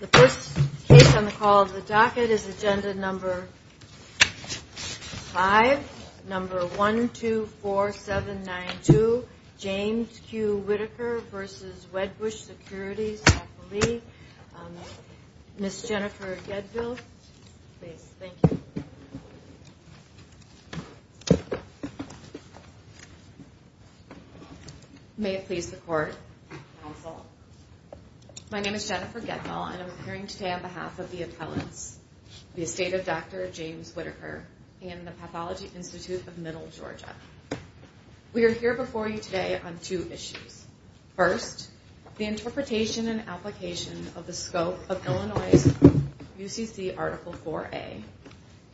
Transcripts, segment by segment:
The first case on the call of the docket is Agenda No. 5, No. 124792, James Q. Whitaker v. Wedbush Securities, L.A. Ms. Jennifer Gedfield, please. Thank you. May it please the Court. Counsel. My name is Jennifer Gedfield, and I'm appearing today on behalf of the appellants, the estate of Dr. James Whitaker, and the Pathology Institute of Middle Georgia. We are here before you today on two issues. First, the interpretation and application of the scope of Illinois' UCC Article 4a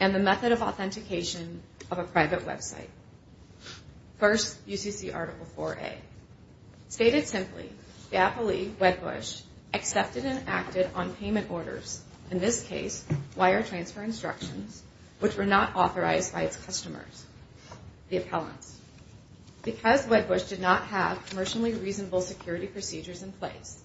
and the method of authentication of a private website. First, UCC Article 4a. Stated simply, the appellee, Wedbush, accepted and acted on payment orders, in this case, wire transfer instructions, which were not authorized by its customers, the appellants. Because Wedbush did not have commercially reasonable security procedures in place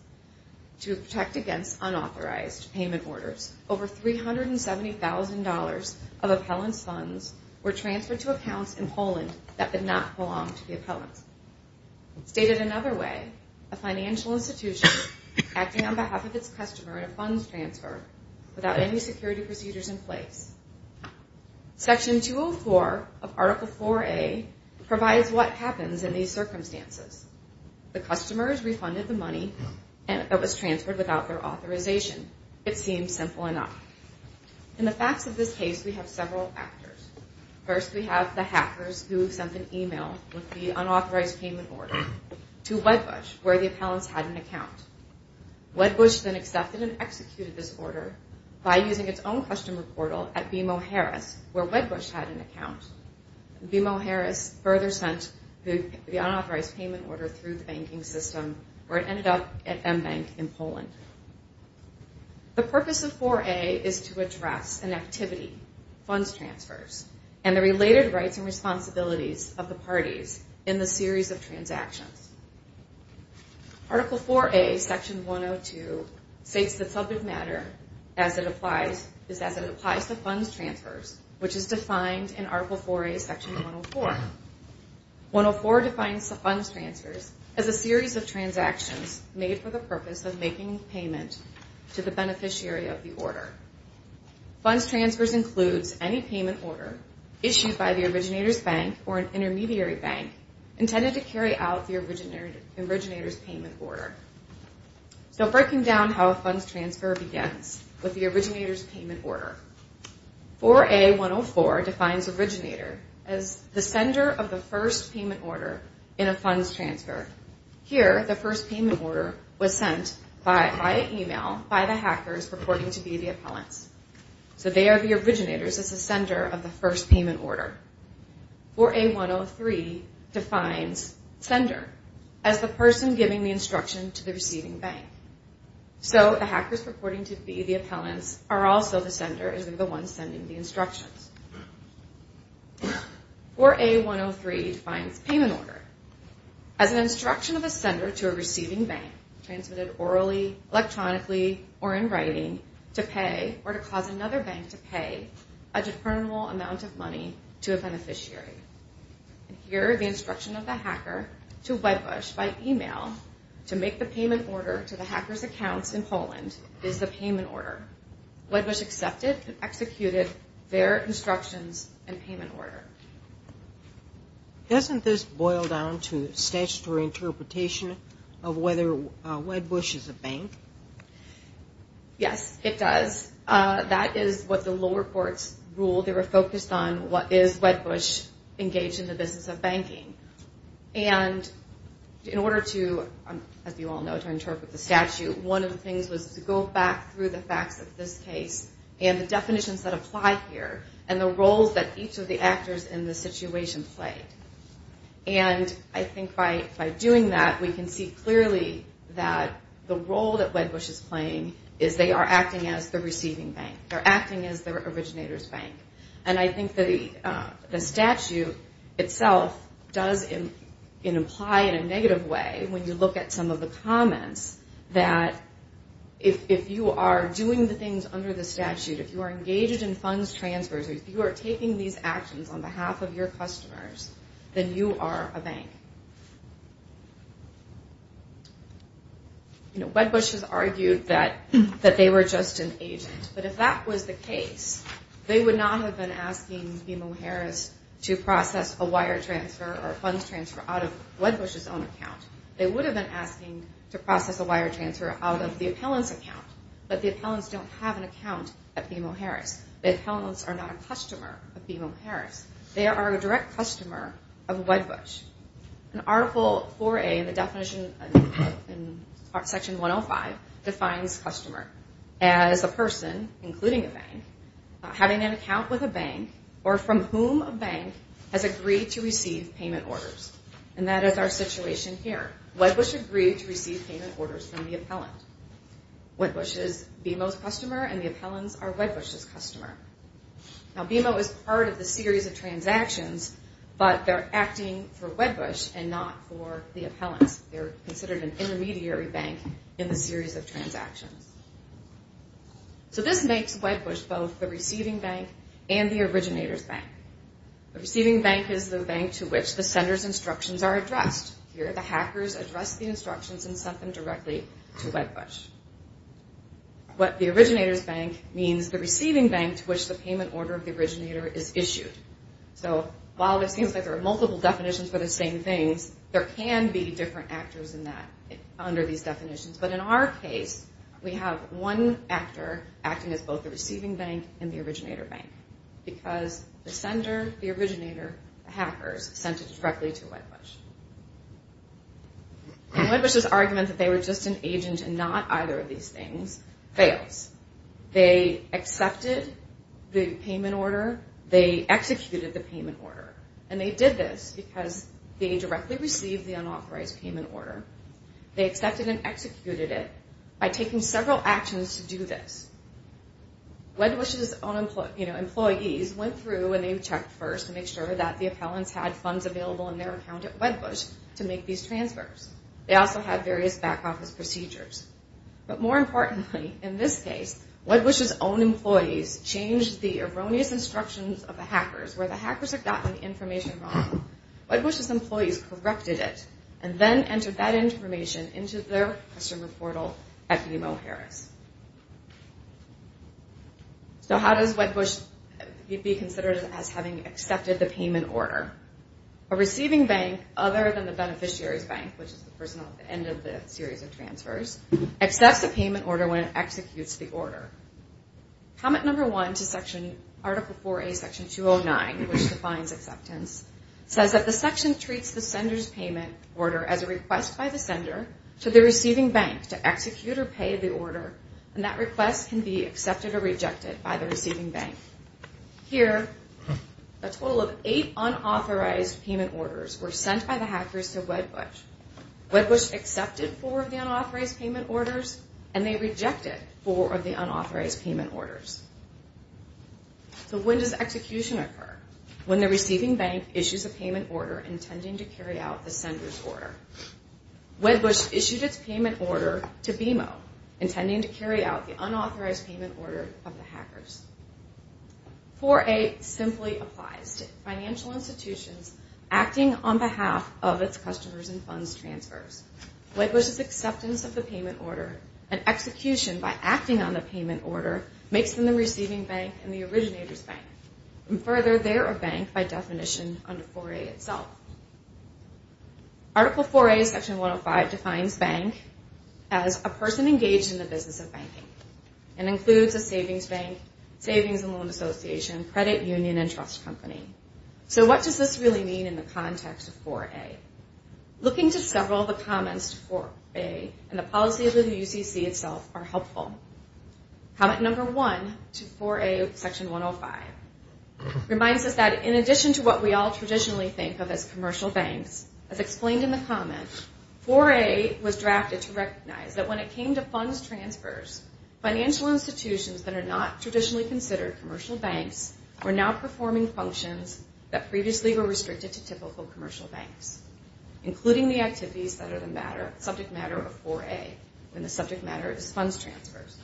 to protect against unauthorized payment orders, over $370,000 of appellants' funds were transferred to accounts in Poland that did not belong to the appellants. Stated another way, a financial institution acting on behalf of its customer in a funds transfer without any security procedures in place. Section 204 of Article 4a provides what happens in these circumstances. The customers refunded the money that was transferred without their authorization. It seems simple enough. In the facts of this case, we have several factors. First, we have the hackers who sent an email with the unauthorized payment order to Wedbush, where the appellants had an account. Wedbush then accepted and executed this order by using its own customer portal at BMO Harris, where Wedbush had an account. BMO Harris further sent the unauthorized payment order through the banking system, where it ended up at MBank in Poland. The purpose of 4a is to address an activity, funds transfers, and the related rights and responsibilities of the parties in the series of transactions. Article 4a, Section 102, states that subject matter is as it applies to funds transfers, which is defined in Article 4a, Section 104. 104 defines the funds transfers as a series of transactions made for the purpose of making payment to the beneficiary of the order. Funds transfers includes any payment order issued by the originator's bank or an intermediary bank intended to carry out the originator's payment order. So breaking down how a funds transfer begins with the originator's payment order. 4a.104 defines originator as the sender of the first payment order in a funds transfer. Here, the first payment order was sent via email by the hackers purporting to be the appellants. So they are the originators as the sender of the first payment order. 4a.103 defines sender as the person giving the instruction to the receiving bank. So the hackers purporting to be the appellants are also the sender, as they are the ones sending the instructions. 4a.103 defines payment order as an instruction of a sender to a receiving bank, transmitted orally, electronically, or in writing, to pay or to cause another bank to pay a deferrable amount of money to a beneficiary. Here, the instruction of the hacker to Wedbush by email to make the payment order to the hackers' accounts in Poland is the payment order. Wedbush accepted and executed their instructions and payment order. Doesn't this boil down to statutory interpretation of whether Wedbush is a bank? Yes, it does. That is what the lower courts ruled. They were focused on what is Wedbush engaged in the business of banking. And in order to, as you all know, to interpret the statute, one of the things was to go back through the facts of this case and the definitions that apply here and the roles that each of the actors in this situation played. And I think by doing that, we can see clearly that the role that Wedbush is playing is they are acting as the receiving bank. They're acting as the originator's bank. And I think the statute itself does imply in a negative way, when you look at some of the comments, that if you are doing the things under the statute, if you are engaged in funds transfers, if you are taking these actions on behalf of your customers, then you are a bank. You know, Wedbush has argued that they were just an agent. But if that was the case, they would not have been asking BMO Harris to process a wire transfer or funds transfer out of Wedbush's own account. They would have been asking to process a wire transfer out of the appellant's account. But the appellants don't have an account at BMO Harris. The appellants are not a customer of BMO Harris. They are a direct customer of Wedbush. And Article 4A in the definition in Section 105 defines customer as a person, including a bank, having an account with a bank or from whom a bank has agreed to receive payment orders. And that is our situation here. Wedbush agreed to receive payment orders from the appellant. Wedbush is BMO's customer and the appellants are Wedbush's customer. Now BMO is part of the series of transactions, but they are acting for Wedbush and not for the appellants. They are considered an intermediary bank in the series of transactions. So this makes Wedbush both the receiving bank and the originator's bank. The receiving bank is the bank to which the sender's instructions are addressed. Here the hackers addressed the instructions and sent them directly to Wedbush. What the originator's bank means, the receiving bank to which the payment order of the originator is issued. So while it seems like there are multiple definitions for the same things, there can be different actors in that under these definitions. But in our case, we have one actor acting as both the receiving bank and the originator bank. Because the sender, the originator, the hackers sent it directly to Wedbush. And Wedbush's argument that they were just an agent and not either of these things fails. They accepted the payment order. They executed the payment order. And they did this because they directly received the unauthorized payment order. They accepted and executed it by taking several actions to do this. Wedbush's own employees went through and they checked first to make sure that the appellants had funds available in their account at Wedbush to make these transfers. They also had various back office procedures. But more importantly, in this case, Wedbush's own employees changed the erroneous instructions of the hackers where the hackers had gotten the information wrong. Wedbush's employees corrected it and then entered that information into their customer portal at BMO Harris. So how does Wedbush be considered as having accepted the payment order? A receiving bank, other than the beneficiary's bank, which is the person at the end of the series of transfers, accepts the payment order when it executes the order. Comment number one to Article 4A, Section 209, which defines acceptance, says that the section treats the sender's payment order as a request by the sender to the receiving bank to execute or pay the order. And that request can be accepted or rejected by the receiving bank. Here, a total of eight unauthorized payment orders were sent by the hackers to Wedbush. Wedbush accepted four of the unauthorized payment orders and they rejected four of the unauthorized payment orders. So when does execution occur? When the receiving bank issues a payment order intending to carry out the sender's order. Wedbush issued its payment order to BMO, intending to carry out the unauthorized payment order of the hackers. 4A simply applies to financial institutions acting on behalf of its customers in funds transfers. Wedbush's acceptance of the payment order and execution by acting on the payment order makes them the receiving bank and the originator's bank. And further, they are a bank by definition under 4A itself. Article 4A, Section 105, defines bank as a person engaged in the business of banking and includes a savings bank, savings and loan association, credit union, and trust company. So what does this really mean in the context of 4A? Looking to several of the comments to 4A and the policy of the UCC itself are helpful. Comment number one to 4A, Section 105, reminds us that in addition to what we all traditionally think of as commercial banks, as explained in the comment, 4A was drafted to recognize that when it came to funds transfers, financial institutions that are not traditionally considered commercial banks were now performing functions that previously were restricted to typical commercial banks, including the activities that are the subject matter of 4A when the subject matter is funds transfers.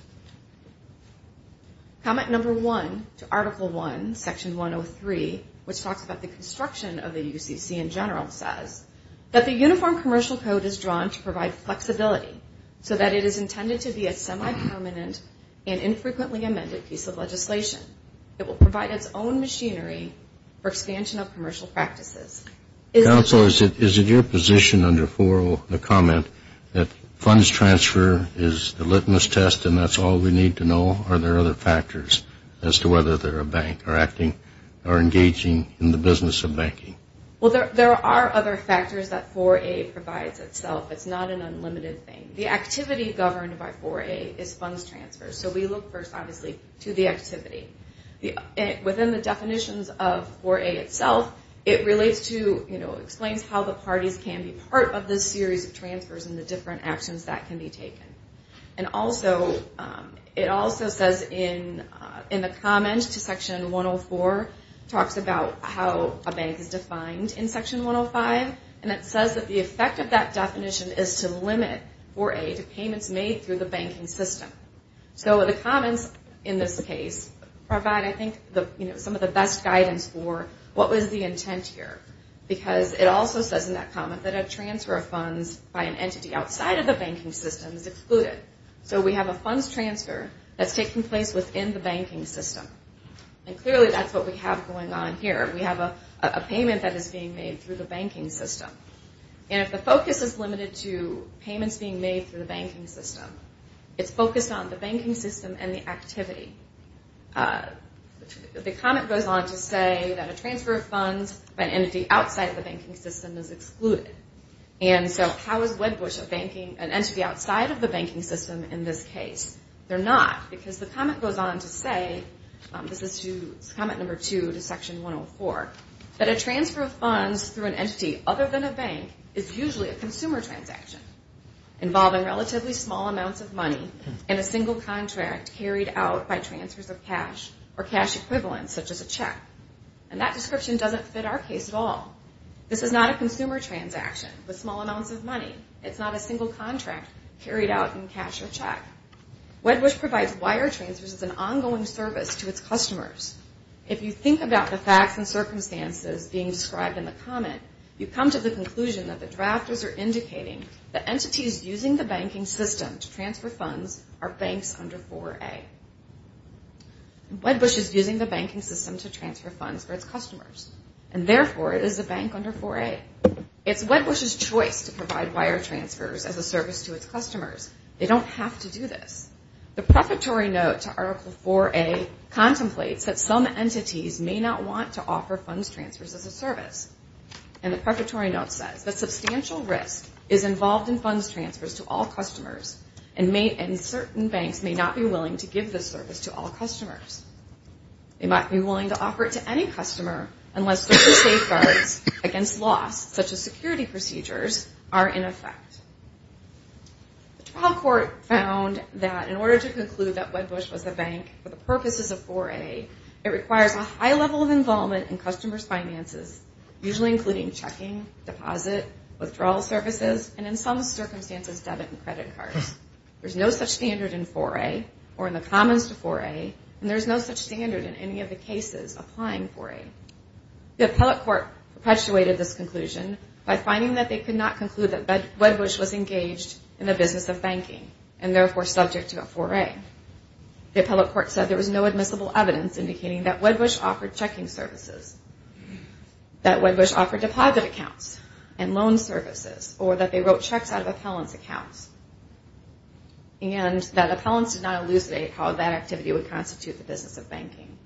Comment number one to Article 1, Section 103, which talks about the construction of the UCC in general, says that the uniform commercial code is drawn to provide flexibility so that it is intended to be a semi-permanent and infrequently amended piece of legislation. It will provide its own machinery for expansion of commercial practices. Counselor, is it your position under 4A, the comment, that funds transfer is a litmus test and that's all we need to know? Are there other factors as to whether they're a bank or acting or engaging in the business of banking? Well, there are other factors that 4A provides itself. It's not an unlimited thing. The activity governed by 4A is funds transfers. So we look first, obviously, to the activity. Within the definitions of 4A itself, it relates to, you know, explains how the parties can be part of this series of transfers and the different actions that can be taken. And also, it also says in the comment to Section 104, talks about how a bank is defined in Section 105, and it says that the effect of that definition is to limit 4A to payments made through the banking system. So the comments in this case provide, I think, some of the best guidance for what was the intent here. Because it also says in that comment that a transfer of funds by an entity outside of the banking system is excluded. So we have a funds transfer that's taking place within the banking system. And clearly, that's what we have going on here. We have a payment that is being made through the banking system. And if the focus is limited to payments being made through the banking system, it's focused on the banking system and the activity. The comment goes on to say that a transfer of funds by an entity outside of the banking system is excluded. And so how is Wedbush an entity outside of the banking system in this case? They're not, because the comment goes on to say, this is to comment number two to Section 104, that a transfer of funds through an entity other than a bank is usually a consumer transaction, involving relatively small amounts of money in a single contract carried out by transfers of cash or cash equivalents, such as a check. And that description doesn't fit our case at all. This is not a consumer transaction with small amounts of money. It's not a single contract carried out in cash or check. Wedbush provides wire transfers as an ongoing service to its customers. If you think about the facts and circumstances being described in the comment, you come to the conclusion that the drafters are indicating that entities using the banking system to transfer funds are banks under 4A. Wedbush is using the banking system to transfer funds for its customers, and therefore it is a bank under 4A. It's Wedbush's choice to provide wire transfers as a service to its customers. They don't have to do this. The prefatory note to Article 4A contemplates that some entities may not want to offer funds transfers as a service. And the prefatory note says, that substantial risk is involved in funds transfers to all customers, and certain banks may not be willing to give this service to all customers. They might be willing to offer it to any customer unless certain safeguards against loss, such as security procedures, are in effect. The trial court found that in order to conclude that Wedbush was a bank for the purposes of 4A, it requires a high level of involvement in customers' finances, usually including checking, deposit, withdrawal services, and in some circumstances, debit and credit cards. There's no such standard in 4A or in the commons to 4A, and there's no such standard in any of the cases applying 4A. The appellate court perpetuated this conclusion by finding that they could not conclude that Wedbush was engaged in the business of banking, and therefore subject to a 4A. The appellate court said there was no admissible evidence indicating that Wedbush offered checking services, that Wedbush offered deposit accounts and loan services, or that they wrote checks out of appellant's accounts, and that appellants did not elucidate how that activity would constitute the business of banking.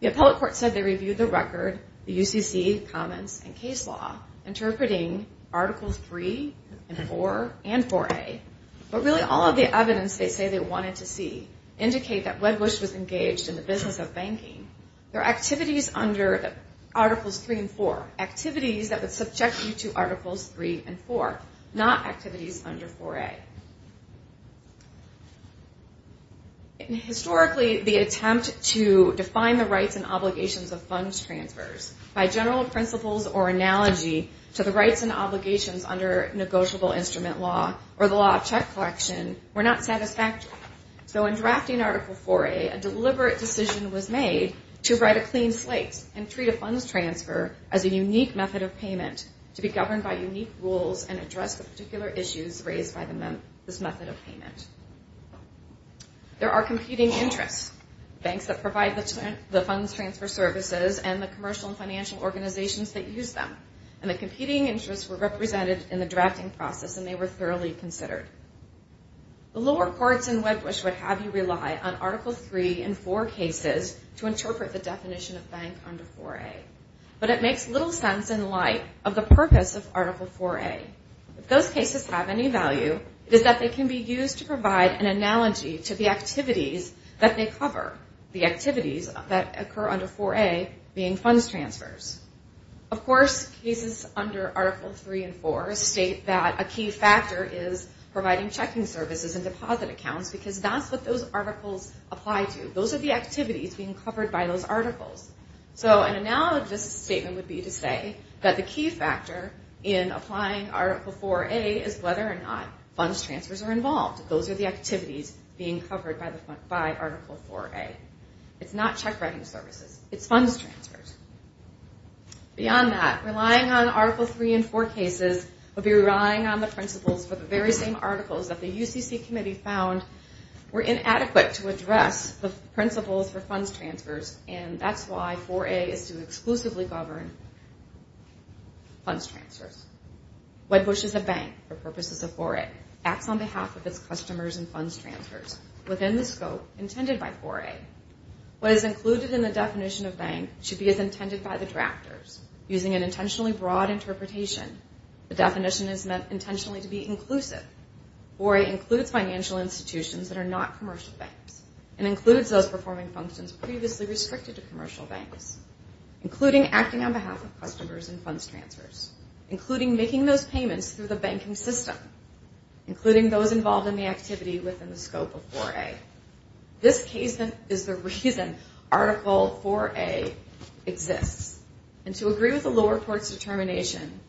The appellate court said they reviewed the record, the UCC, commons, and case law, interpreting Articles 3 and 4 and 4A, but really all of the evidence they say they wanted to see indicate that Wedbush was engaged in the business of banking. There are activities under Articles 3 and 4, activities that would subject you to Articles 3 and 4, not activities under 4A. Historically, the attempt to define the rights and obligations of funds transfers by general principles or analogy to the rights and obligations under negotiable instrument law or the law of check collection were not satisfactory. So in drafting Article 4A, a deliberate decision was made to write a clean slate and treat a funds transfer as a unique method of payment to be governed by unique rules and address the particular issues raised by this method of payment. There are competing interests. Banks that provide the funds transfer services and the commercial and financial organizations that use them. And the competing interests were represented in the drafting process and they were thoroughly considered. The lower courts in Wedbush would have you rely on Article 3 and 4 cases to interpret the definition of bank under 4A. But it makes little sense in light of the purpose of Article 4A. If those cases have any value, it is that they can be used to provide an analogy to the activities that they cover, the activities that occur under 4A being funds transfers. Of course, cases under Article 3 and 4 state that a key factor is providing checking services and deposit accounts because that's what those articles apply to. Those are the activities being covered by those articles. So an analogous statement would be to say that the key factor in applying Article 4A is whether or not funds transfers are involved. Those are the activities being covered by Article 4A. It's not check writing services. It's funds transfers. Beyond that, relying on Article 3 and 4 cases would be relying on the principles for the very same articles that the UCC committee found were inadequate to address the principles for funds transfers and that's why 4A is to exclusively govern funds transfers. Wedbush is a bank for purposes of 4A. Acts on behalf of its customers and funds transfers within the scope intended by 4A. What is included in the definition of bank should be as intended by the drafters. Using an intentionally broad interpretation, the definition is meant intentionally to be inclusive. 4A includes financial institutions that are not commercial banks and includes those performing functions previously restricted to commercial banks, including acting on behalf of customers and funds transfers, including making those payments through the banking system, including those involved in the activity within the scope of 4A. This case is the reason Article 4A exists. And to agree with the lower court's determination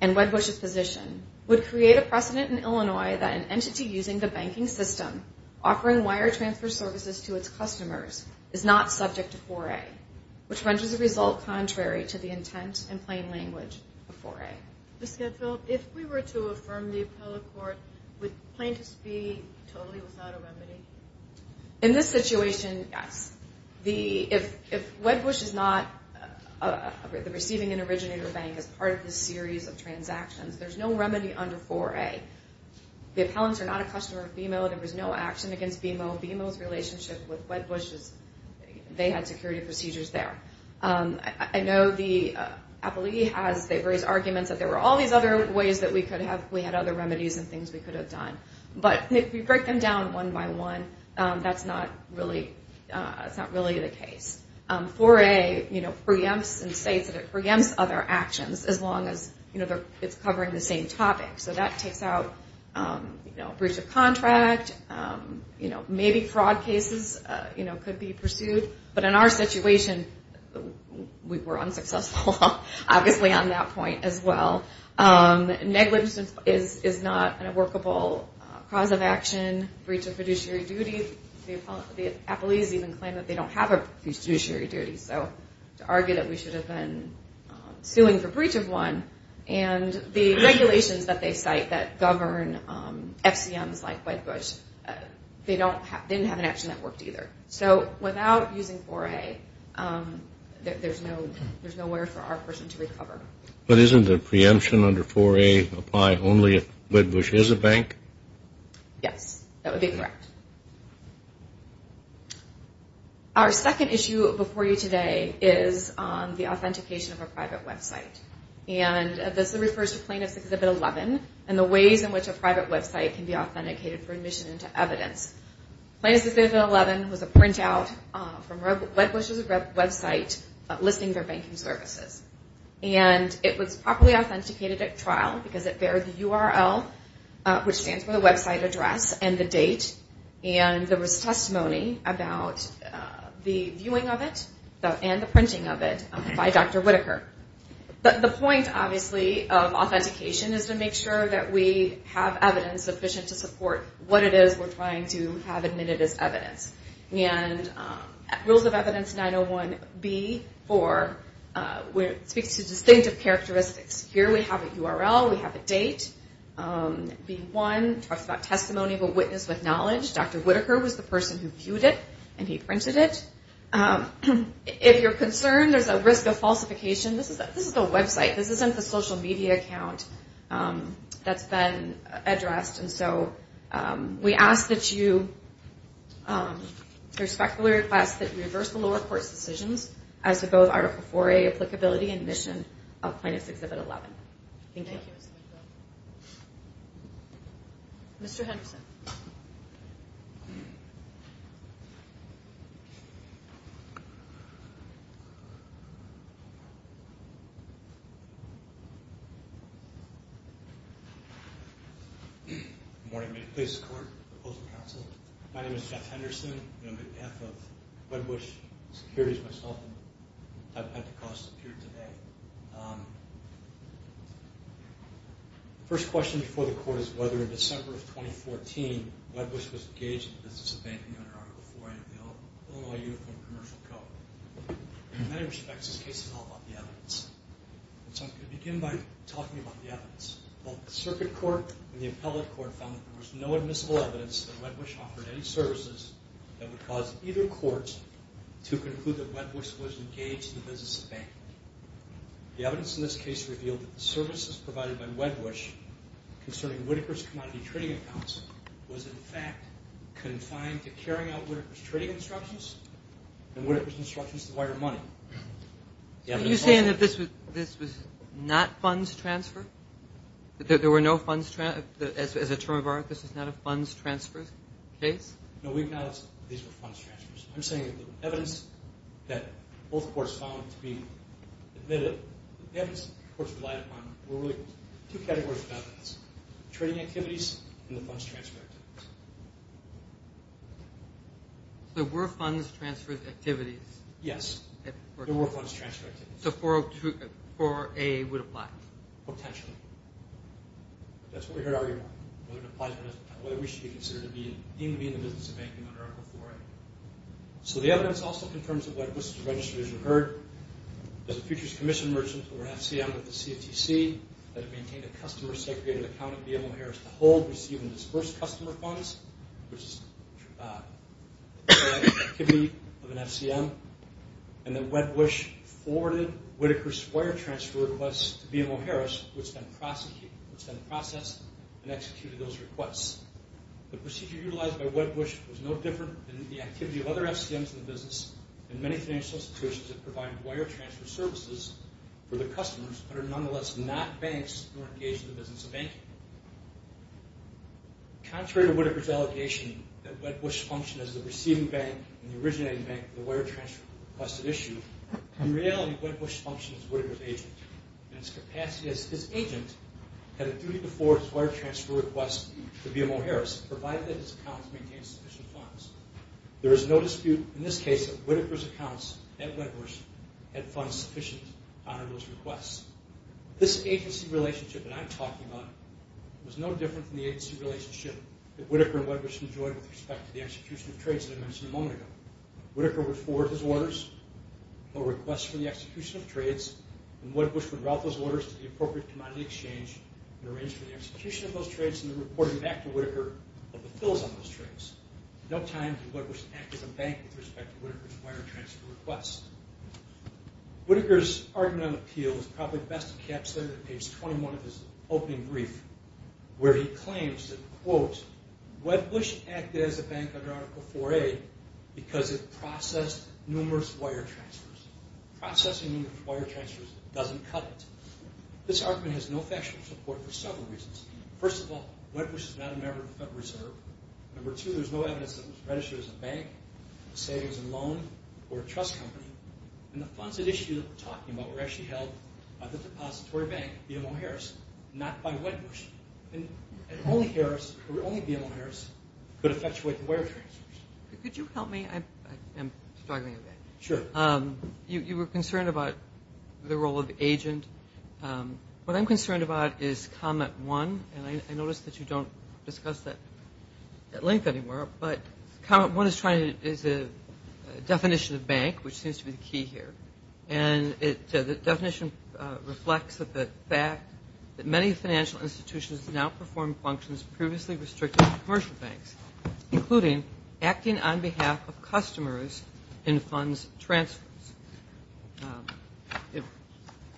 and Wedbush's position would create a precedent in Illinois that an entity using the banking system offering wire transfer services to its customers is not subject to 4A, which renders the result contrary to the intent and plain language of 4A. Ms. Getfield, if we were to affirm the appellate court, would plaintiffs be totally without a remedy? In this situation, yes. If Wedbush is not receiving an originator bank as part of this series of transactions, there's no remedy under 4A. The appellants are not a customer of BMO. There was no action against BMO. BMO's relationship with Wedbush is, they had security procedures there. I know the appellee has various arguments that there were all these other ways that we could have, we had other remedies and things we could have done. But if you break them down one by one, that's not really the case. 4A preempts and states that it preempts other actions as long as it's covering the same topic. So that takes out breach of contract. Maybe fraud cases could be pursued. But in our situation, we were unsuccessful obviously on that point as well. Negligence is not a workable cause of action. Breach of fiduciary duty, the appellees even claim that they don't have a fiduciary duty. So to argue that we should have been suing for breach of one, and the regulations that they cite that govern FCMs like Wedbush, they didn't have an action that worked either. So without using 4A, there's nowhere for our person to recover. But isn't the preemption under 4A apply only if Wedbush is a bank? Yes, that would be correct. Our second issue before you today is the authentication of a private website. And this refers to Plaintiffs' Exhibit 11 and the ways in which a private website can be authenticated for admission into evidence. Plaintiffs' Exhibit 11 was a printout from Wedbush's website listing their banking services. And it was properly authenticated at trial because it bared the URL, which stands for the website address, and the date. And there was testimony about the viewing of it and the printing of it by Dr. Whitaker. The point, obviously, of authentication is to make sure that we have evidence sufficient to support what it is we're trying to have admitted as evidence. And Rules of Evidence 901B4 speaks to distinctive characteristics. Here we have a URL, we have a date. B1 talks about testimony of a witness with knowledge. Dr. Whitaker was the person who viewed it and he printed it. If you're concerned there's a risk of falsification, this is a website. This isn't the social media account that's been addressed. And so we ask that you... We respectfully request that you reverse the lower court's decisions as to both Article IV-A applicability and mission of Plaintiff's Exhibit 11. Thank you. Mr. Henderson. Good morning. This is the Court Proposal Council. My name is Jeff Henderson. I'm on behalf of Wedbush Securities myself and I've had the cause appear today. The first question before the Court is whether in December of 2014 Wedbush was engaged in the business of banking under Article IV-A Bill, Illinois Uniform Commercial Code. In many respects, this case is all about the evidence. So I'm going to begin by talking about the evidence. Both the Circuit Court and the Appellate Court found that there was no admissible evidence that Wedbush offered any services that would cause either court to conclude that Wedbush was engaged in the business of banking. The evidence in this case revealed that the services provided by Wedbush concerning Whitaker's commodity trading accounts was in fact confined to carrying out Whitaker's trading instructions and Whitaker's instructions to wire money. Are you saying that this was not funds transfer? That there were no funds... As a term of art, this is not a funds transfer case? No, we acknowledge these were funds transfers. I'm saying that the evidence that both courts found to be admitted... The evidence the courts relied upon were really two categories of evidence. Trading activities and the funds transfer activities. So there were funds transfer activities? Yes, there were funds transfer activities. So IV-A would apply? Potentially. That's what we're here to argue about. Whether it applies or not. Whether Whitaker should be considered to even be in the business of banking under IV-A. So the evidence also confirms that Wedbush's registries were heard as a futures commission merchant over an FCM at the CFTC that had maintained a customer-segregated account of BMO Harris to hold, receive, and disperse customer funds, which is the activity of an FCM. And that Wedbush forwarded Whitaker's wire transfer requests to BMO Harris, which then processed and executed those requests. The procedure utilized by Wedbush was no different than the activity of other FCMs in the business and many financial institutions that provide wire transfer services for their customers that are nonetheless not banks nor engaged in the business of banking. Contrary to Whitaker's allegation that Wedbush functioned as the receiving bank and the originating bank for the wire transfer requested issue, in reality, Wedbush functions as Whitaker's agent. In his capacity as his agent, he had a duty to forward his wire transfer request to BMO Harris, provided that his accounts maintained sufficient funds. There is no dispute in this case that Whitaker's accounts at Wedbush had funds sufficient to honor those requests. This agency relationship that I'm talking about was no different from the agency relationship that Whitaker and Wedbush enjoyed with respect to the execution of trades that I mentioned a moment ago. Whitaker would forward his orders or requests for the execution of trades and Wedbush would route those orders to the appropriate commodity exchange and arrange for the execution of those trades and then report it back to Whitaker about the fills on those trades. At no time did Wedbush act as a bank with respect to Whitaker's wire transfer request. Whitaker's argument on appeal was probably best encapsulated in page 21 of his opening brief where he claims that, quote, Wedbush acted as a bank under Article 4A because it processed numerous wire transfers. Processing wire transfers doesn't cut it. This argument has no factual support for several reasons. First of all, Wedbush is not a member of the Federal Reserve. Number two, there's no evidence that it was registered as a bank, say it was a loan or a trust company. And the funds at issue that we're talking about were actually held by the depository bank, BMO Harris, not by Wedbush. And only Harris, only BMO Harris, could effectuate the wire transfers. Could you help me? I am struggling a bit. Sure. You were concerned about the role of agent. What I'm concerned about is comment one, and I notice that you don't discuss that link anymore, but comment one is a definition of bank, which seems to be the key here. And the definition reflects the fact that many financial institutions now perform functions previously restricted to commercial banks, including acting on behalf of customers in funds transfers.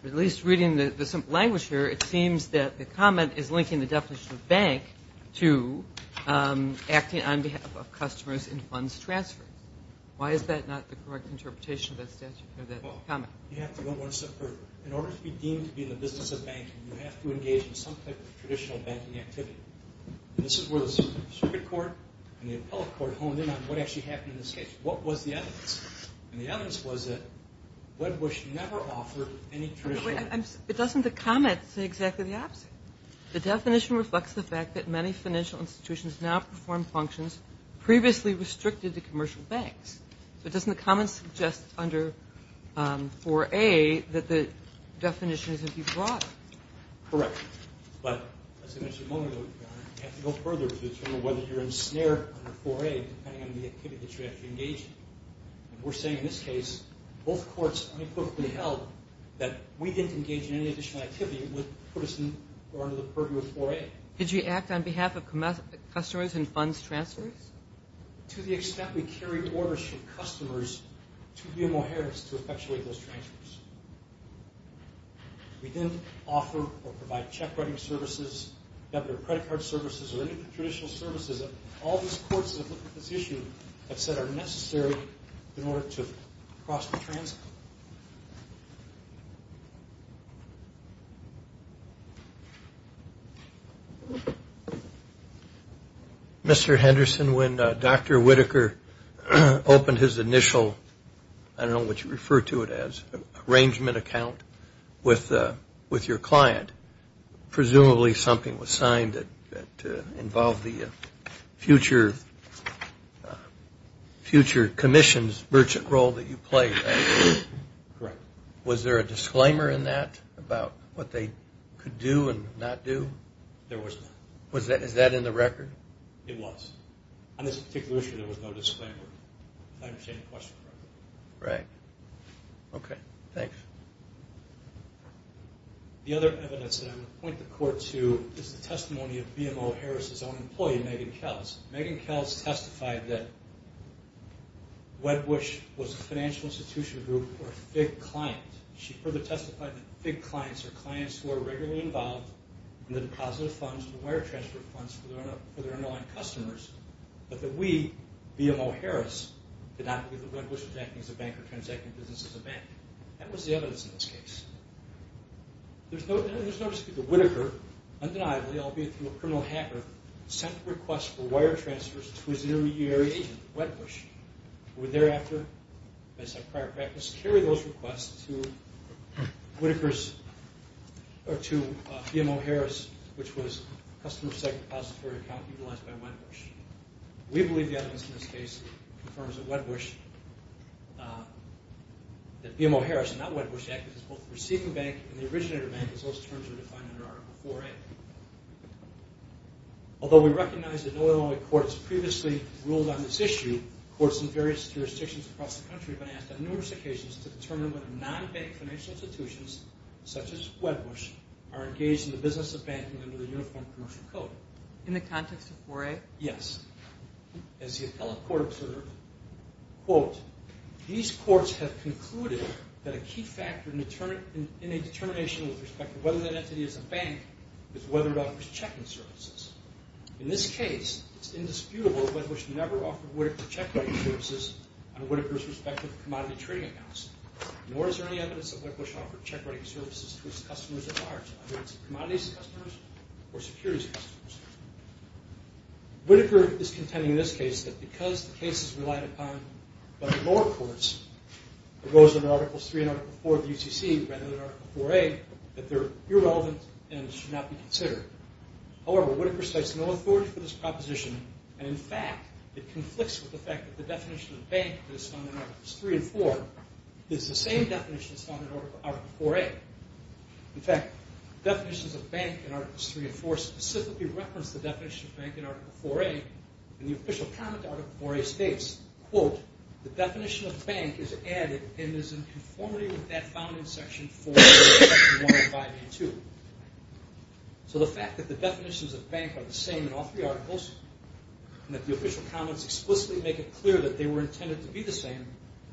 At least reading the language here, it seems that the comment is linking the definition of bank to acting on behalf of customers in funds transfers. Why is that not the correct interpretation of that comment? Well, you have to go one step further. In order to be deemed to be in the business of banking, you have to engage in some type of traditional banking activity. And this is where the circuit court and the appellate court honed in on what actually happened in this case. What was the evidence? And the evidence was that Wedbush never offered any traditional banking. But doesn't the comment say exactly the opposite? The definition reflects the fact that many financial institutions now perform functions previously restricted to commercial banks. So doesn't the comment suggest under 4A that the definition is going to be broader? Correct. But as I mentioned a moment ago, Your Honor, you have to go further to determine whether you're ensnared under 4A depending on the activity that you actually engage in. And we're saying in this case both courts unequivocally held that we didn't engage in any additional activity that would put us under the purview of 4A. Did you act on behalf of customers in funds transfers? To the extent we carried orders from customers to BMO Harris to effectuate those transfers. We didn't offer or provide check writing services, debit or credit card services, or any traditional services. All these courts that look at this issue have said are necessary in order to cross the transit. Mr. Henderson, when Dr. Whitaker opened his initial, I don't know what you refer to it as, arrangement account with your client, presumably something was signed that involved the future commissions merchant role that you played. Correct. Was there a disclaimer in that about what they could do and not do? There was not. Is that in the record? It was. On this particular issue, there was no disclaimer. If I understand the question correctly. Right. Okay. Thanks. The other evidence that I'm going to point the court to is the testimony of BMO Harris' own employee, Megan Kells. Megan Kells testified that Wedbush was a financial institution group or FIG client. She further testified that FIG clients are clients who are regularly involved in the depositive funds and wire transfer funds for their non-customers, but that we, BMO Harris, did not believe that Wedbush was acting as a bank or transacting business as a bank. That was the evidence in this case. There's no dispute that Whitaker, undeniably, albeit through a criminal hacker, sent requests for wire transfers to his intermediary agent, Wedbush, who thereafter, as a prior practice, carried those requests to BMO Harris, which was a customer-side depository account utilized by Wedbush. We believe the evidence in this case confirms that Wedbush, that BMO Harris and not Wedbush, acted as both a receiving bank and the originator bank, as those terms are defined under Article IVA. Although we recognize that Illinois courts previously ruled on this issue, courts in various jurisdictions across the country have been asked on numerous occasions to determine whether non-bank financial institutions such as Wedbush are engaged in the business of banking under the Uniform Commercial Code. In the context of IVA? Yes. As the appellate court observed, quote, these courts have concluded that a key factor in a determination with respect to whether that entity is a bank is whether it offers checking services. In this case, it's indisputable that Wedbush never offered Whitaker check writing services on Whitaker's respective commodity trading accounts, nor is there any evidence that Wedbush offered check writing services to its customers at large, either its commodities customers or securities customers. Whitaker is contending in this case that because the case is relied upon by the lower courts, it goes under Articles III and Article IV of the UCC rather than Article IVA, that they're irrelevant and should not be considered. However, Whitaker cites no authority for this proposition, and in fact it conflicts with the fact that the definition of the bank that is found in Articles III and IV is the same definition that's found in Article IVA. In fact, definitions of bank in Articles III and IV specifically reference the definition of bank in Article IVA, and the official comment to Article IVA states, quote, the definition of bank is added and is in conformity with that found in Section IV, Section 1 and 5A2. So the fact that the definitions of bank are the same in all three articles and that the official comments explicitly make it clear that they were intended to be the same,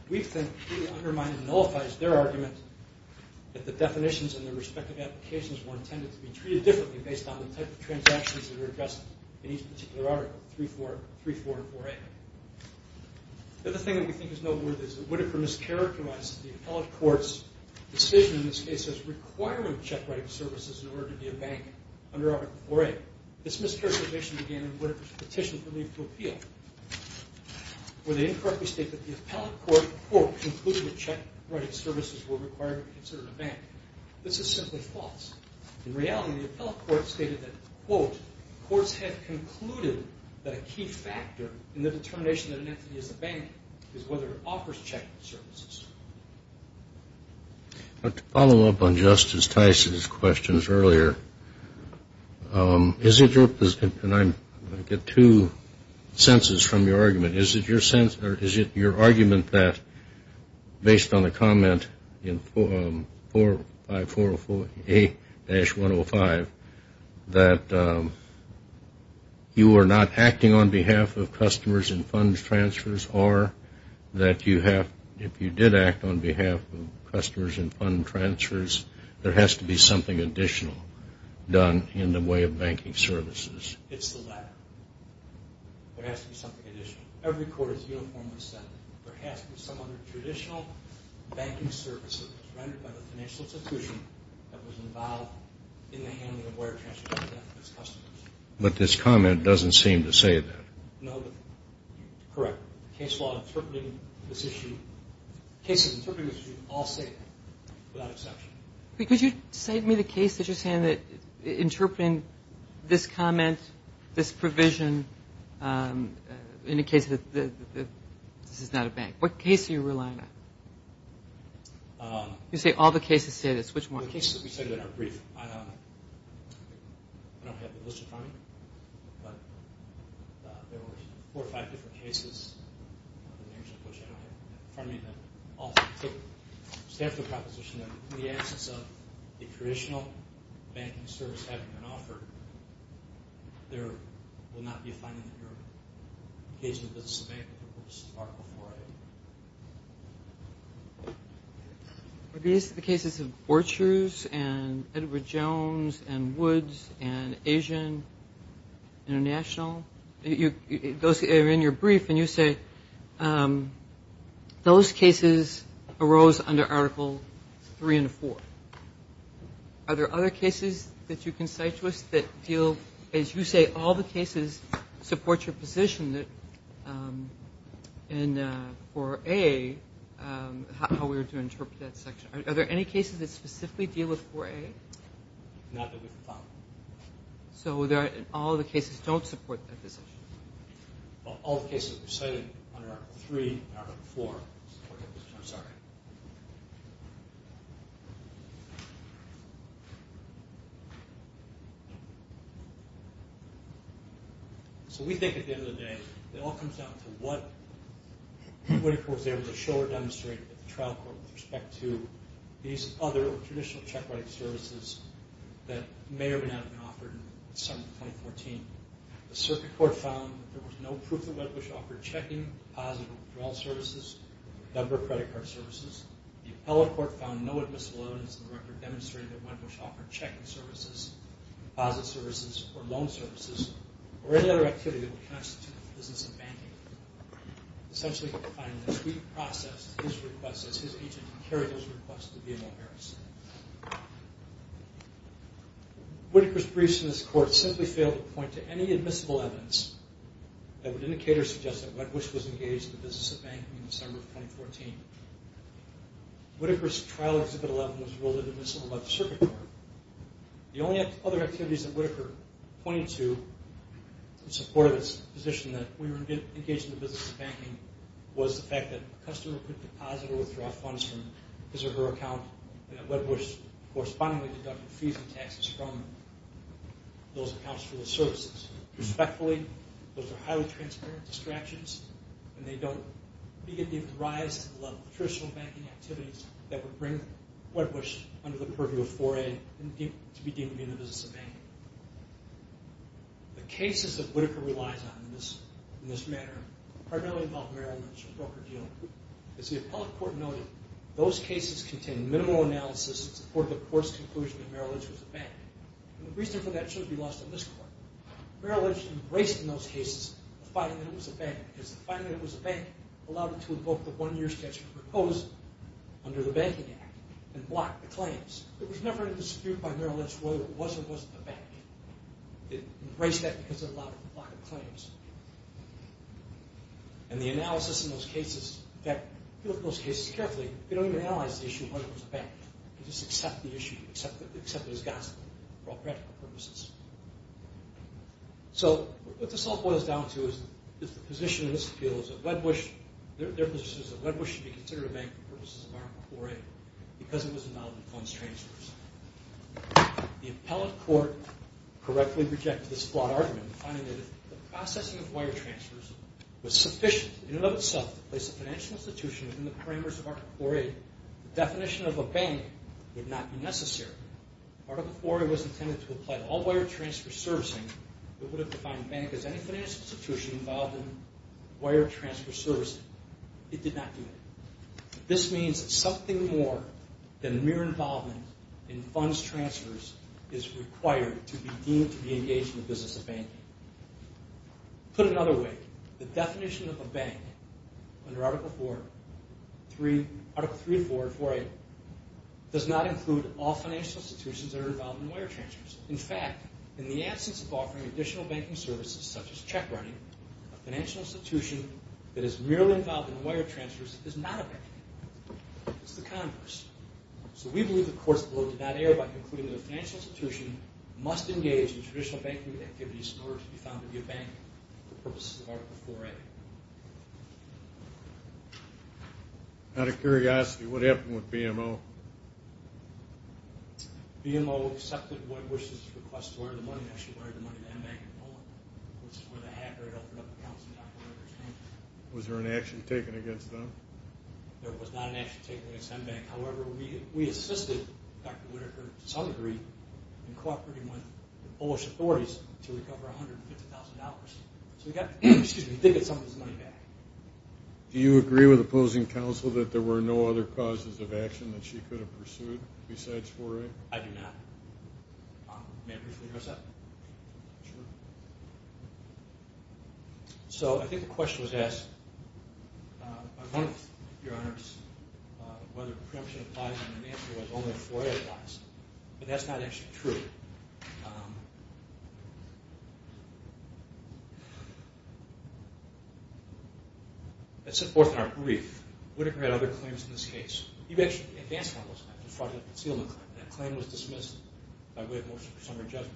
we think undermines and nullifies their argument that the definitions and the respective applications were intended to be treated differently based on the type of transactions that were addressed in each particular article, III, IV, and IVA. The other thing that we think is noteworthy is that Whitaker mischaracterized the appellate court's decision in this case as requiring check writing services in order to be a bank under Article IVA. This mischaracterization began in Whitaker's petition for leave to appeal, where they incorrectly state that the appellate court, quote, concluded that check writing services were required to be considered a bank. This is simply false. In reality, the appellate court stated that, quote, courts had concluded that a key factor in the determination that an entity is a bank is whether it offers check writing services. To follow up on Justice Tice's questions earlier, is it your position, and I'm going to get two senses from your argument, is it your sense or is it your argument that, based on the comment in 45408-105, that you are not acting on behalf of customers in fund transfers or that you have, if you did act on behalf of customers in fund transfers, there has to be something additional done in the way of banking services? It's the latter. There has to be something additional. Every court is uniformly set. There has to be some other traditional banking services rendered by the financial institution that was involved in the handling of wire transfers with customers. But this comment doesn't seem to say that. No, but correct. The case law interpreting this issue, cases interpreting this issue all say that, without exception. Could you cite me the case that you're saying that interpreting this comment, this provision, in the case that this is not a bank. What case are you relying on? You say all the cases say this. Which one? The cases that we cited in our brief. I don't have the list in front of me, but there were four or five different cases. I don't have them in front of me. But I'll stand for the proposition that in the absence of a traditional banking service having been offered, there will not be a finding that you're engaging in business with a bank. This is Article 4A. Are these the cases of Borchers and Edward Jones and Woods and Asian International? Those are in your brief, and you say those cases arose under Article 3 and 4. Are there other cases that you can cite to us that deal, as you say, do all the cases support your position that in 4A, how we were to interpret that section? Are there any cases that specifically deal with 4A? Not that we've found. So all the cases don't support that position? All the cases we've cited under Article 3 and Article 4 support your position? I'm sorry. So we think at the end of the day, it all comes down to what the winning court was able to show or demonstrate at the trial court with respect to these other traditional check writing services that may or may not have been offered in December 2014. The circuit court found that there was no proof that Wedbush offered checking, deposit or withdrawal services, or a number of credit card services. The appellate court found no admissible evidence in the record demonstrating that Wedbush offered checking services, deposit services, or loan services, or any other activity that would constitute the business of banking. Essentially, we find that we processed his request as his agent and carried his request to VML Harris. Whittaker's briefs in this court simply fail to point to any admissible evidence that would indicate or suggest that Wedbush was engaged in the business of banking in December of 2014. Whittaker's trial Exhibit 11 was ruled an admissible by the circuit court. The only other activities that Whittaker pointed to in support of his position that we were engaged in the business of banking was the fact that a customer could deposit or withdraw funds from his or her account and that Wedbush correspondingly deducted fees and taxes from those accounts for those services. Respectfully, those are highly transparent distractions and they don't begin to give the rise to the level of traditional banking activities that would bring Wedbush under the purview of 4A to be deemed to be in the business of banking. The cases that Whittaker relies on in this manner primarily involve Maryland's broker deal. As the appellate court noted, those cases contain minimal analysis in support of the court's conclusion that Merrill Lynch was a bank. The reason for that should be lost in this court. Merrill Lynch embraced in those cases the finding that it was a bank because the finding that it was a bank allowed it to invoke the one-year schedule proposed under the Banking Act and block the claims. There was never a dispute by Merrill Lynch whether it was or wasn't a bank. It embraced that because it allowed it to block the claims. And the analysis in those cases, if you look at those cases carefully, they don't even analyze the issue of whether it was a bank. They just accept the issue, accept it as gossip for all practical purposes. So what this all boils down to is the position in this appeal is that their position is that Wedbush should be considered a bank for purposes of Article 4A because it was involved in funds transfers. The appellate court correctly rejected this flawed argument in finding that if the processing of wire transfers was sufficient in and of itself to place a financial institution within the parameters of Article 4A, the definition of a bank would not be necessary. Article 4A was intended to apply to all wire transfer servicing. It would have defined a bank as any financial institution involved in wire transfer servicing. It did not do that. This means that something more than mere involvement in funds transfers is required to be deemed to be engaged in the business of banking. Put another way, the definition of a bank under Article 3.4 of 4A does not include all financial institutions that are involved in wire transfers. In fact, in the absence of offering additional banking services such as check running, a financial institution that is merely involved in wire transfers is not a bank. It's the Congress. So we believe the court's blow did not err by concluding that a financial institution must engage in traditional banking activities in order to be found to be a bank for purposes of Article 4A. Out of curiosity, what happened with BMO? BMO accepted Roy Bush's request to wire the money, actually wired the money to MBank in Poland, which is where the hacker had opened up accounts in the operator's name. Was there an action taken against them? There was not an action taken against MBank. However, we assisted Dr. Whitaker to some degree in cooperating with the Polish authorities to recover $150,000. So they got some of this money back. Do you agree with opposing counsel that there were no other causes of action that she could have pursued besides 4A? I do not. May I briefly address that? Sure. So I think the question was asked, by one of your honors, whether preemption applies and the answer was only if 4A applies. But that's not actually true. It's forth in our brief. Whitaker had other claims in this case. He actually advanced one of those claims, the fraudulent concealment claim. That claim was dismissed by way of motion for summary judgment.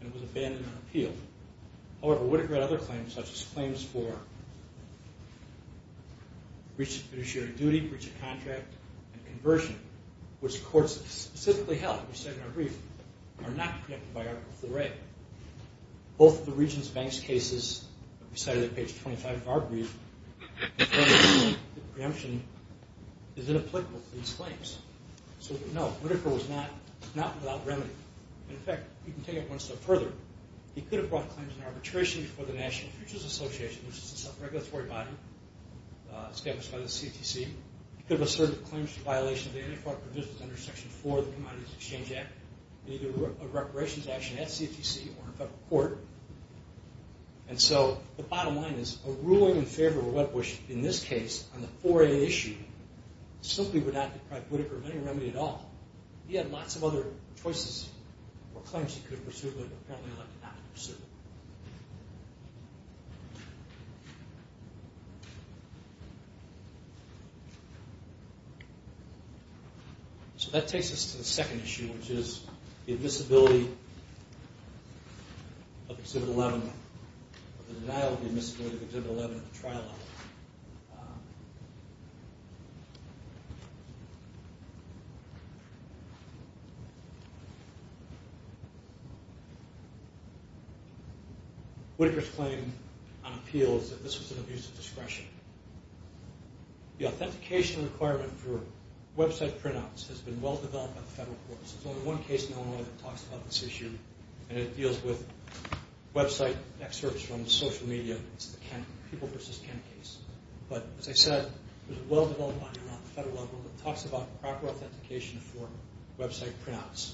It was abandoned and appealed. However, Whitaker had other claims, such as claims for breach of fiduciary duty, breach of contract, and conversion, which courts specifically held, as we said in our brief, are not preempted by Article 4A. Both the Regents Banks cases, as we cited on page 25 of our brief, the preemption is inapplicable to these claims. So no, Whitaker was not without remedy. In fact, you can take it one step further. He could have brought claims in arbitration before the National Futures Association, which is a self-regulatory body established by the CTC. He could have asserted claims to violation of the anti-fraud provisions under Section 4 of the Commodities Exchange Act, either a reparations action at CTC or in federal court. And so the bottom line is, a ruling in favor of a web wish, in this case, on the 4A issue, simply would not deprive Whitaker of any remedy at all. He had lots of other choices or claims he could have pursued, but apparently elected not to pursue them. So that takes us to the second issue, which is the admissibility of Exhibit 11, or the denial of the admissibility of Exhibit 11 at the trial level. Whitaker's claim on appeal is that this was an abuse of discretion. The authentication requirement for website printouts has been well-developed by the federal courts. There's only one case in Illinois that talks about this issue, and it deals with website excerpts from social media. It's the Ken, People v. Ken case. But as I said, it was well-developed by the federal level, It's been well-developed by the federal courts. There are no website printouts.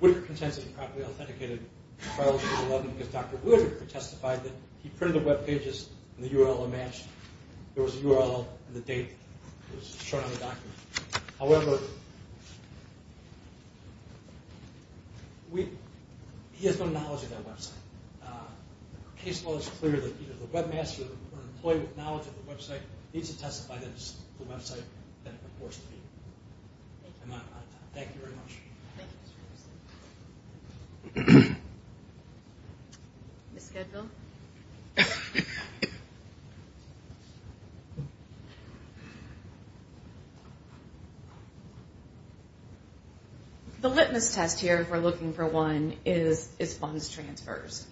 Whitaker contends that he properly authenticated the files of Exhibit 11 because Dr. Wood testified that he printed the web pages and the URL matched. There was a URL and the date was shown on the document. He has no knowledge of that website. Case law is clear that the webmaster or the employee with knowledge of the website needs to testify that it's the website that it purports to be. I'm out of time. Thank you very much. The litmus test here, if we're looking for one, is funds transfers.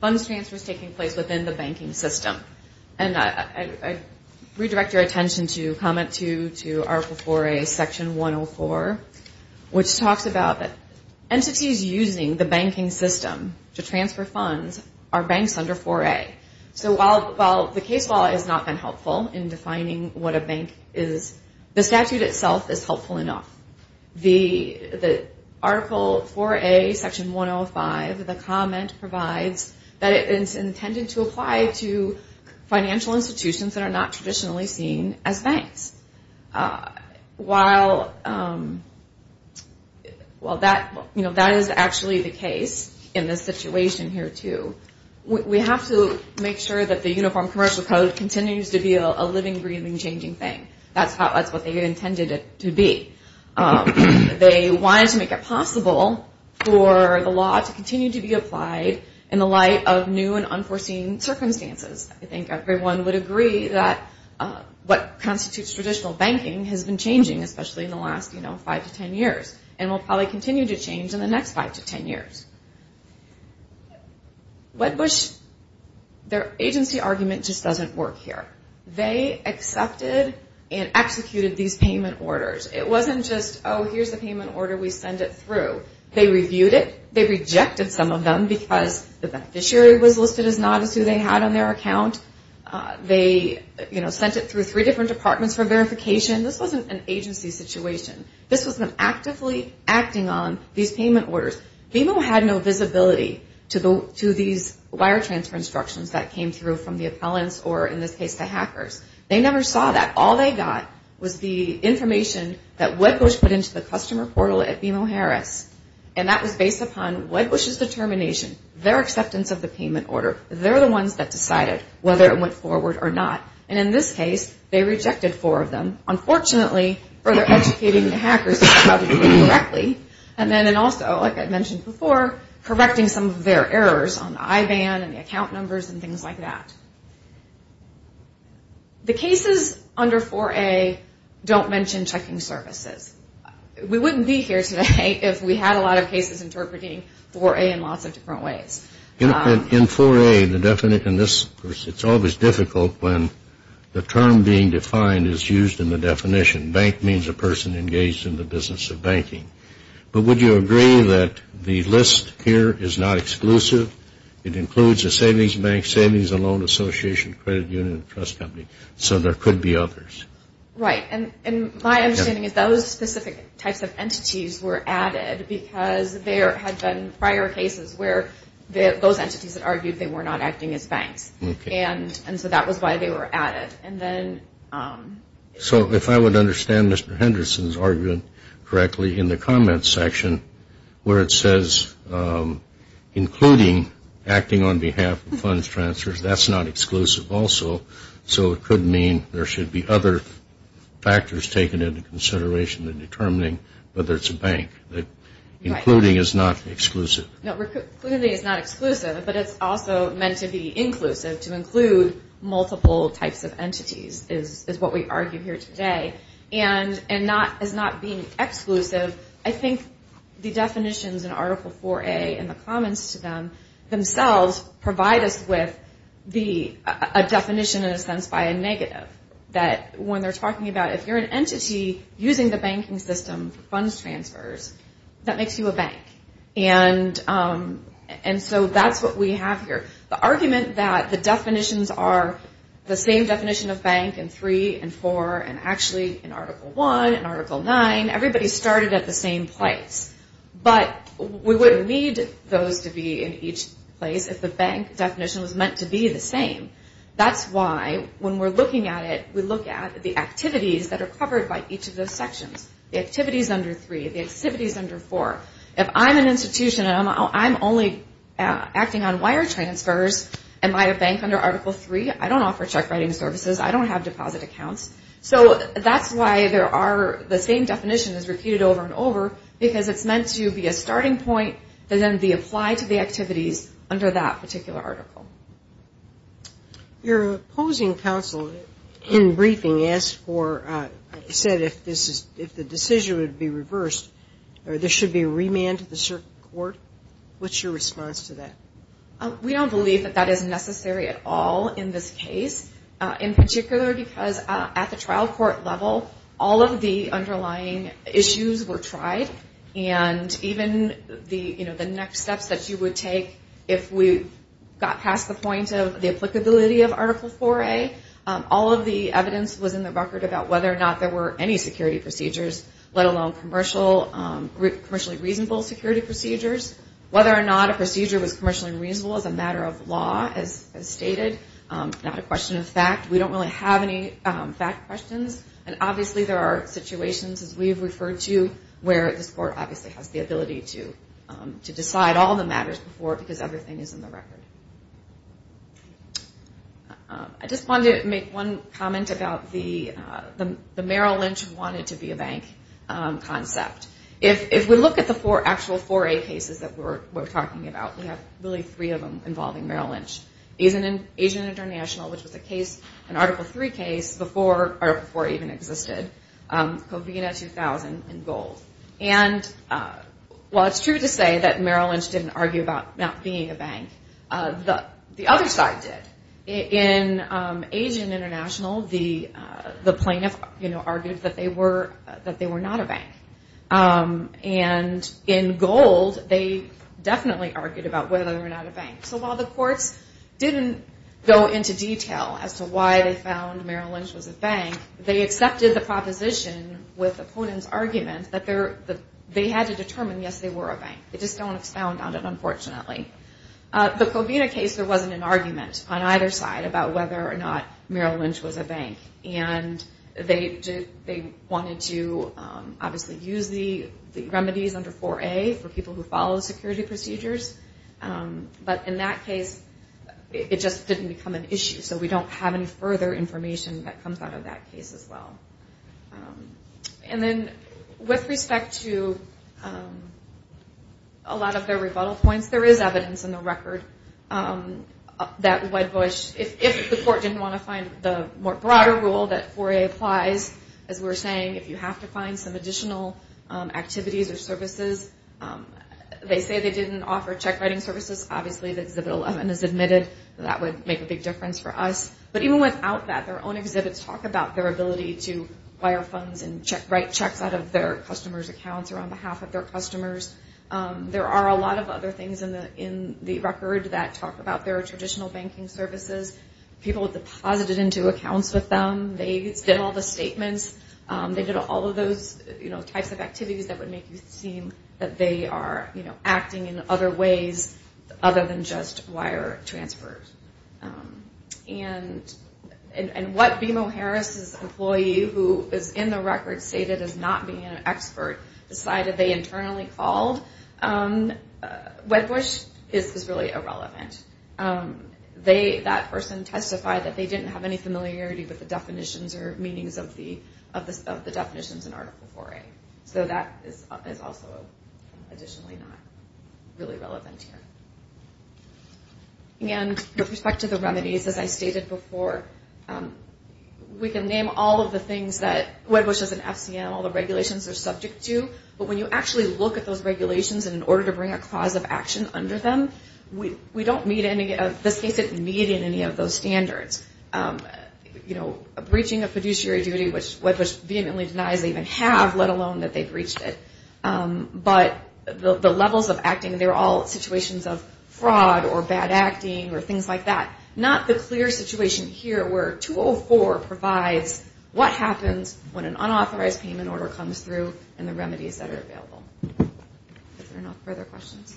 Funds transfers taking place within the banking system. Entities using the banking system to transfer funds are banks under 4A. So while the case law has not been helpful in defining what a bank is, the statute itself is helpful enough. The Article 4A, Section 105, the comment provides that it's intended to apply to financial institutions that are not traditionally seen as banks. While that is actually the case in this situation here too, we have to make sure that the Uniform Commercial Code continues to be a living, breathing, changing thing. That's what they intended it to be. They wanted to make it possible for the law to continue to be applied in the light of new and unforeseen circumstances. I think everyone would agree that what constitutes traditional banking has been changing especially in the last 5-10 years and will probably continue to change in the next 5-10 years. Wedbush, their agency argument just doesn't work here. They accepted and executed these payment orders. It wasn't just, oh, here's the payment order, we send it through. They reviewed it. They rejected some of them because the beneficiary was listed as not as who they had on their account. They sent it through three different departments for verification. This wasn't an agency situation. This was them actively acting on these payment orders. BMO had no visibility to these wire transfer instructions that came through from the appellants or in this case the hackers. They never saw that. All they got was the information that Wedbush put into the customer portal at BMO Harris and that was based upon Wedbush's determination, their acceptance of the payment order. They're the ones that decided whether it went forward or not. In this case, they rejected four of them. Unfortunately, further educating the hackers about how to do it correctly and then also, like I mentioned before, correcting some of their errors on the IVAN and the account numbers and things like that. The cases under 4A don't mention checking services. We wouldn't be here today if we had a lot of cases interpreting 4A in lots of different ways. In 4A, it's always difficult when the term being defined is used in the definition. Bank means a person engaged in the business of banking. But would you agree that the list here is not exclusive? It includes a savings bank, savings and loan association, credit union, and trust company, so there could be others. Right, and my understanding is those specific types of entities were added because there had been prior cases where those entities had argued they were not acting as banks. Okay. And so that was why they were added. So if I would understand Mr. Henderson's argument correctly in the comments section where it says including acting on behalf of funds transfers, that's not exclusive also. So it could mean there should be other factors taken into consideration in determining whether it's a bank. Including is not exclusive. Including is not exclusive, but it's also meant to be inclusive, to include multiple types of entities is what we argue here today. And as not being exclusive, I think the definitions in Article 4A and the comments to them themselves provide us with a definition in a sense by a negative, that when they're talking about if you're an entity using the banking system for funds transfers, that makes you a bank. And so that's what we have here. The argument that the definitions are the same definition of bank in 3 and 4 and actually in Article 1 and Article 9, everybody started at the same place, but we wouldn't need those to be in each place if the bank definition was meant to be the same. That's why when we're looking at it, we look at the activities that are covered by each of those sections. The activities under 3, the activities under 4. If I'm an institution and I'm only acting on wire transfers, am I a bank under Article 3? I don't offer check writing services. I don't have deposit accounts. So that's why there are the same definitions repeated over and over because it's meant to be a starting point that then be applied to the activities under that particular article. Your opposing counsel in briefing said if the decision would be reversed or there should be a remand to the circuit court. What's your response to that? We don't believe that that is necessary at all in this case, in particular because at the trial court level, all of the underlying issues were tried. And even the next steps that you would take if we got past the point of the applicability of Article 4A, all of the evidence was in the record about whether or not there were any security procedures, let alone commercially reasonable security procedures. Whether or not a procedure was commercially reasonable as a matter of law, as stated, not a question of fact. We don't really have any fact questions. And obviously there are situations, as we've referred to, where this court obviously has the ability to decide all the matters before because everything is in the record. I just wanted to make one comment about the Merrill Lynch wanted-to-be-a-bank concept. If we look at the four actual 4A cases that we're talking about, we have really three of them involving Merrill Lynch. Asian International, which was a case, an Article 3 case, before Article 4 even existed. Covina 2000 in gold. And while it's true to say that Merrill Lynch didn't argue about not being a bank, the other side did. In Asian International, the plaintiff argued that they were not a bank. And in gold, they definitely argued about whether or not a bank. So while the courts didn't go into detail as to why they found Merrill Lynch was a bank, they accepted the proposition with the ponent's argument that they had to determine, yes, they were a bank. They just don't expound on it, unfortunately. The Covina case, there wasn't an argument on either side about whether or not Merrill Lynch was a bank. And they wanted to obviously use the remedies under 4A for people who follow security procedures. But in that case, it just didn't become an issue. So we don't have any further information that comes out of that case as well. And then with respect to a lot of their rebuttal points, there is evidence in the record that if the court didn't want to find the more broader rule that 4A applies, as we were saying, if you have to find some additional activities or services, they say they didn't offer check writing services. Obviously, Exhibit 11 is admitted. That would make a big difference for us. But even without that, their own exhibits talk about their ability to wire funds and write checks out of their customers' accounts or on behalf of their customers. There are a lot of other things in the record that talk about their traditional banking services. People have deposited into accounts with them. They did all the statements. They did all of those types of activities that would make you seem that they are acting in other ways other than just wire transfers. And what BMO Harris's employee, who is in the record stated as not being an expert, decided they internally called, Wedbush, is really irrelevant. That person testified that they didn't have any familiarity with the definitions or meanings of the definitions in Article 4A. So that is also additionally not really relevant here. And with respect to the remedies, as I stated before, we can name all of the things that Wedbush does in FCM, all the regulations they're subject to, but when you actually look at those regulations in order to bring a clause of action under them, we don't meet any of those standards. You know, breaching of fiduciary duty, which Wedbush vehemently denies they even have, let alone that they've breached it. But the levels of acting, they're all situations of fraud or bad acting or things like that. Not the clear situation here where 204 provides what happens when an unauthorized payment order comes through and the remedies that are available. If there are no further questions.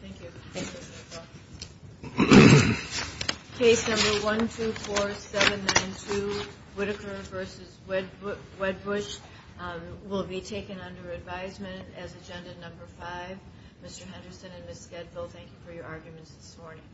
Thank you. Thank you. Case number 124792, Whitaker v. Wedbush, will be taken under advisement as Agenda Number 5. Mr. Henderson and Ms. Skedville, thank you for your arguments this morning.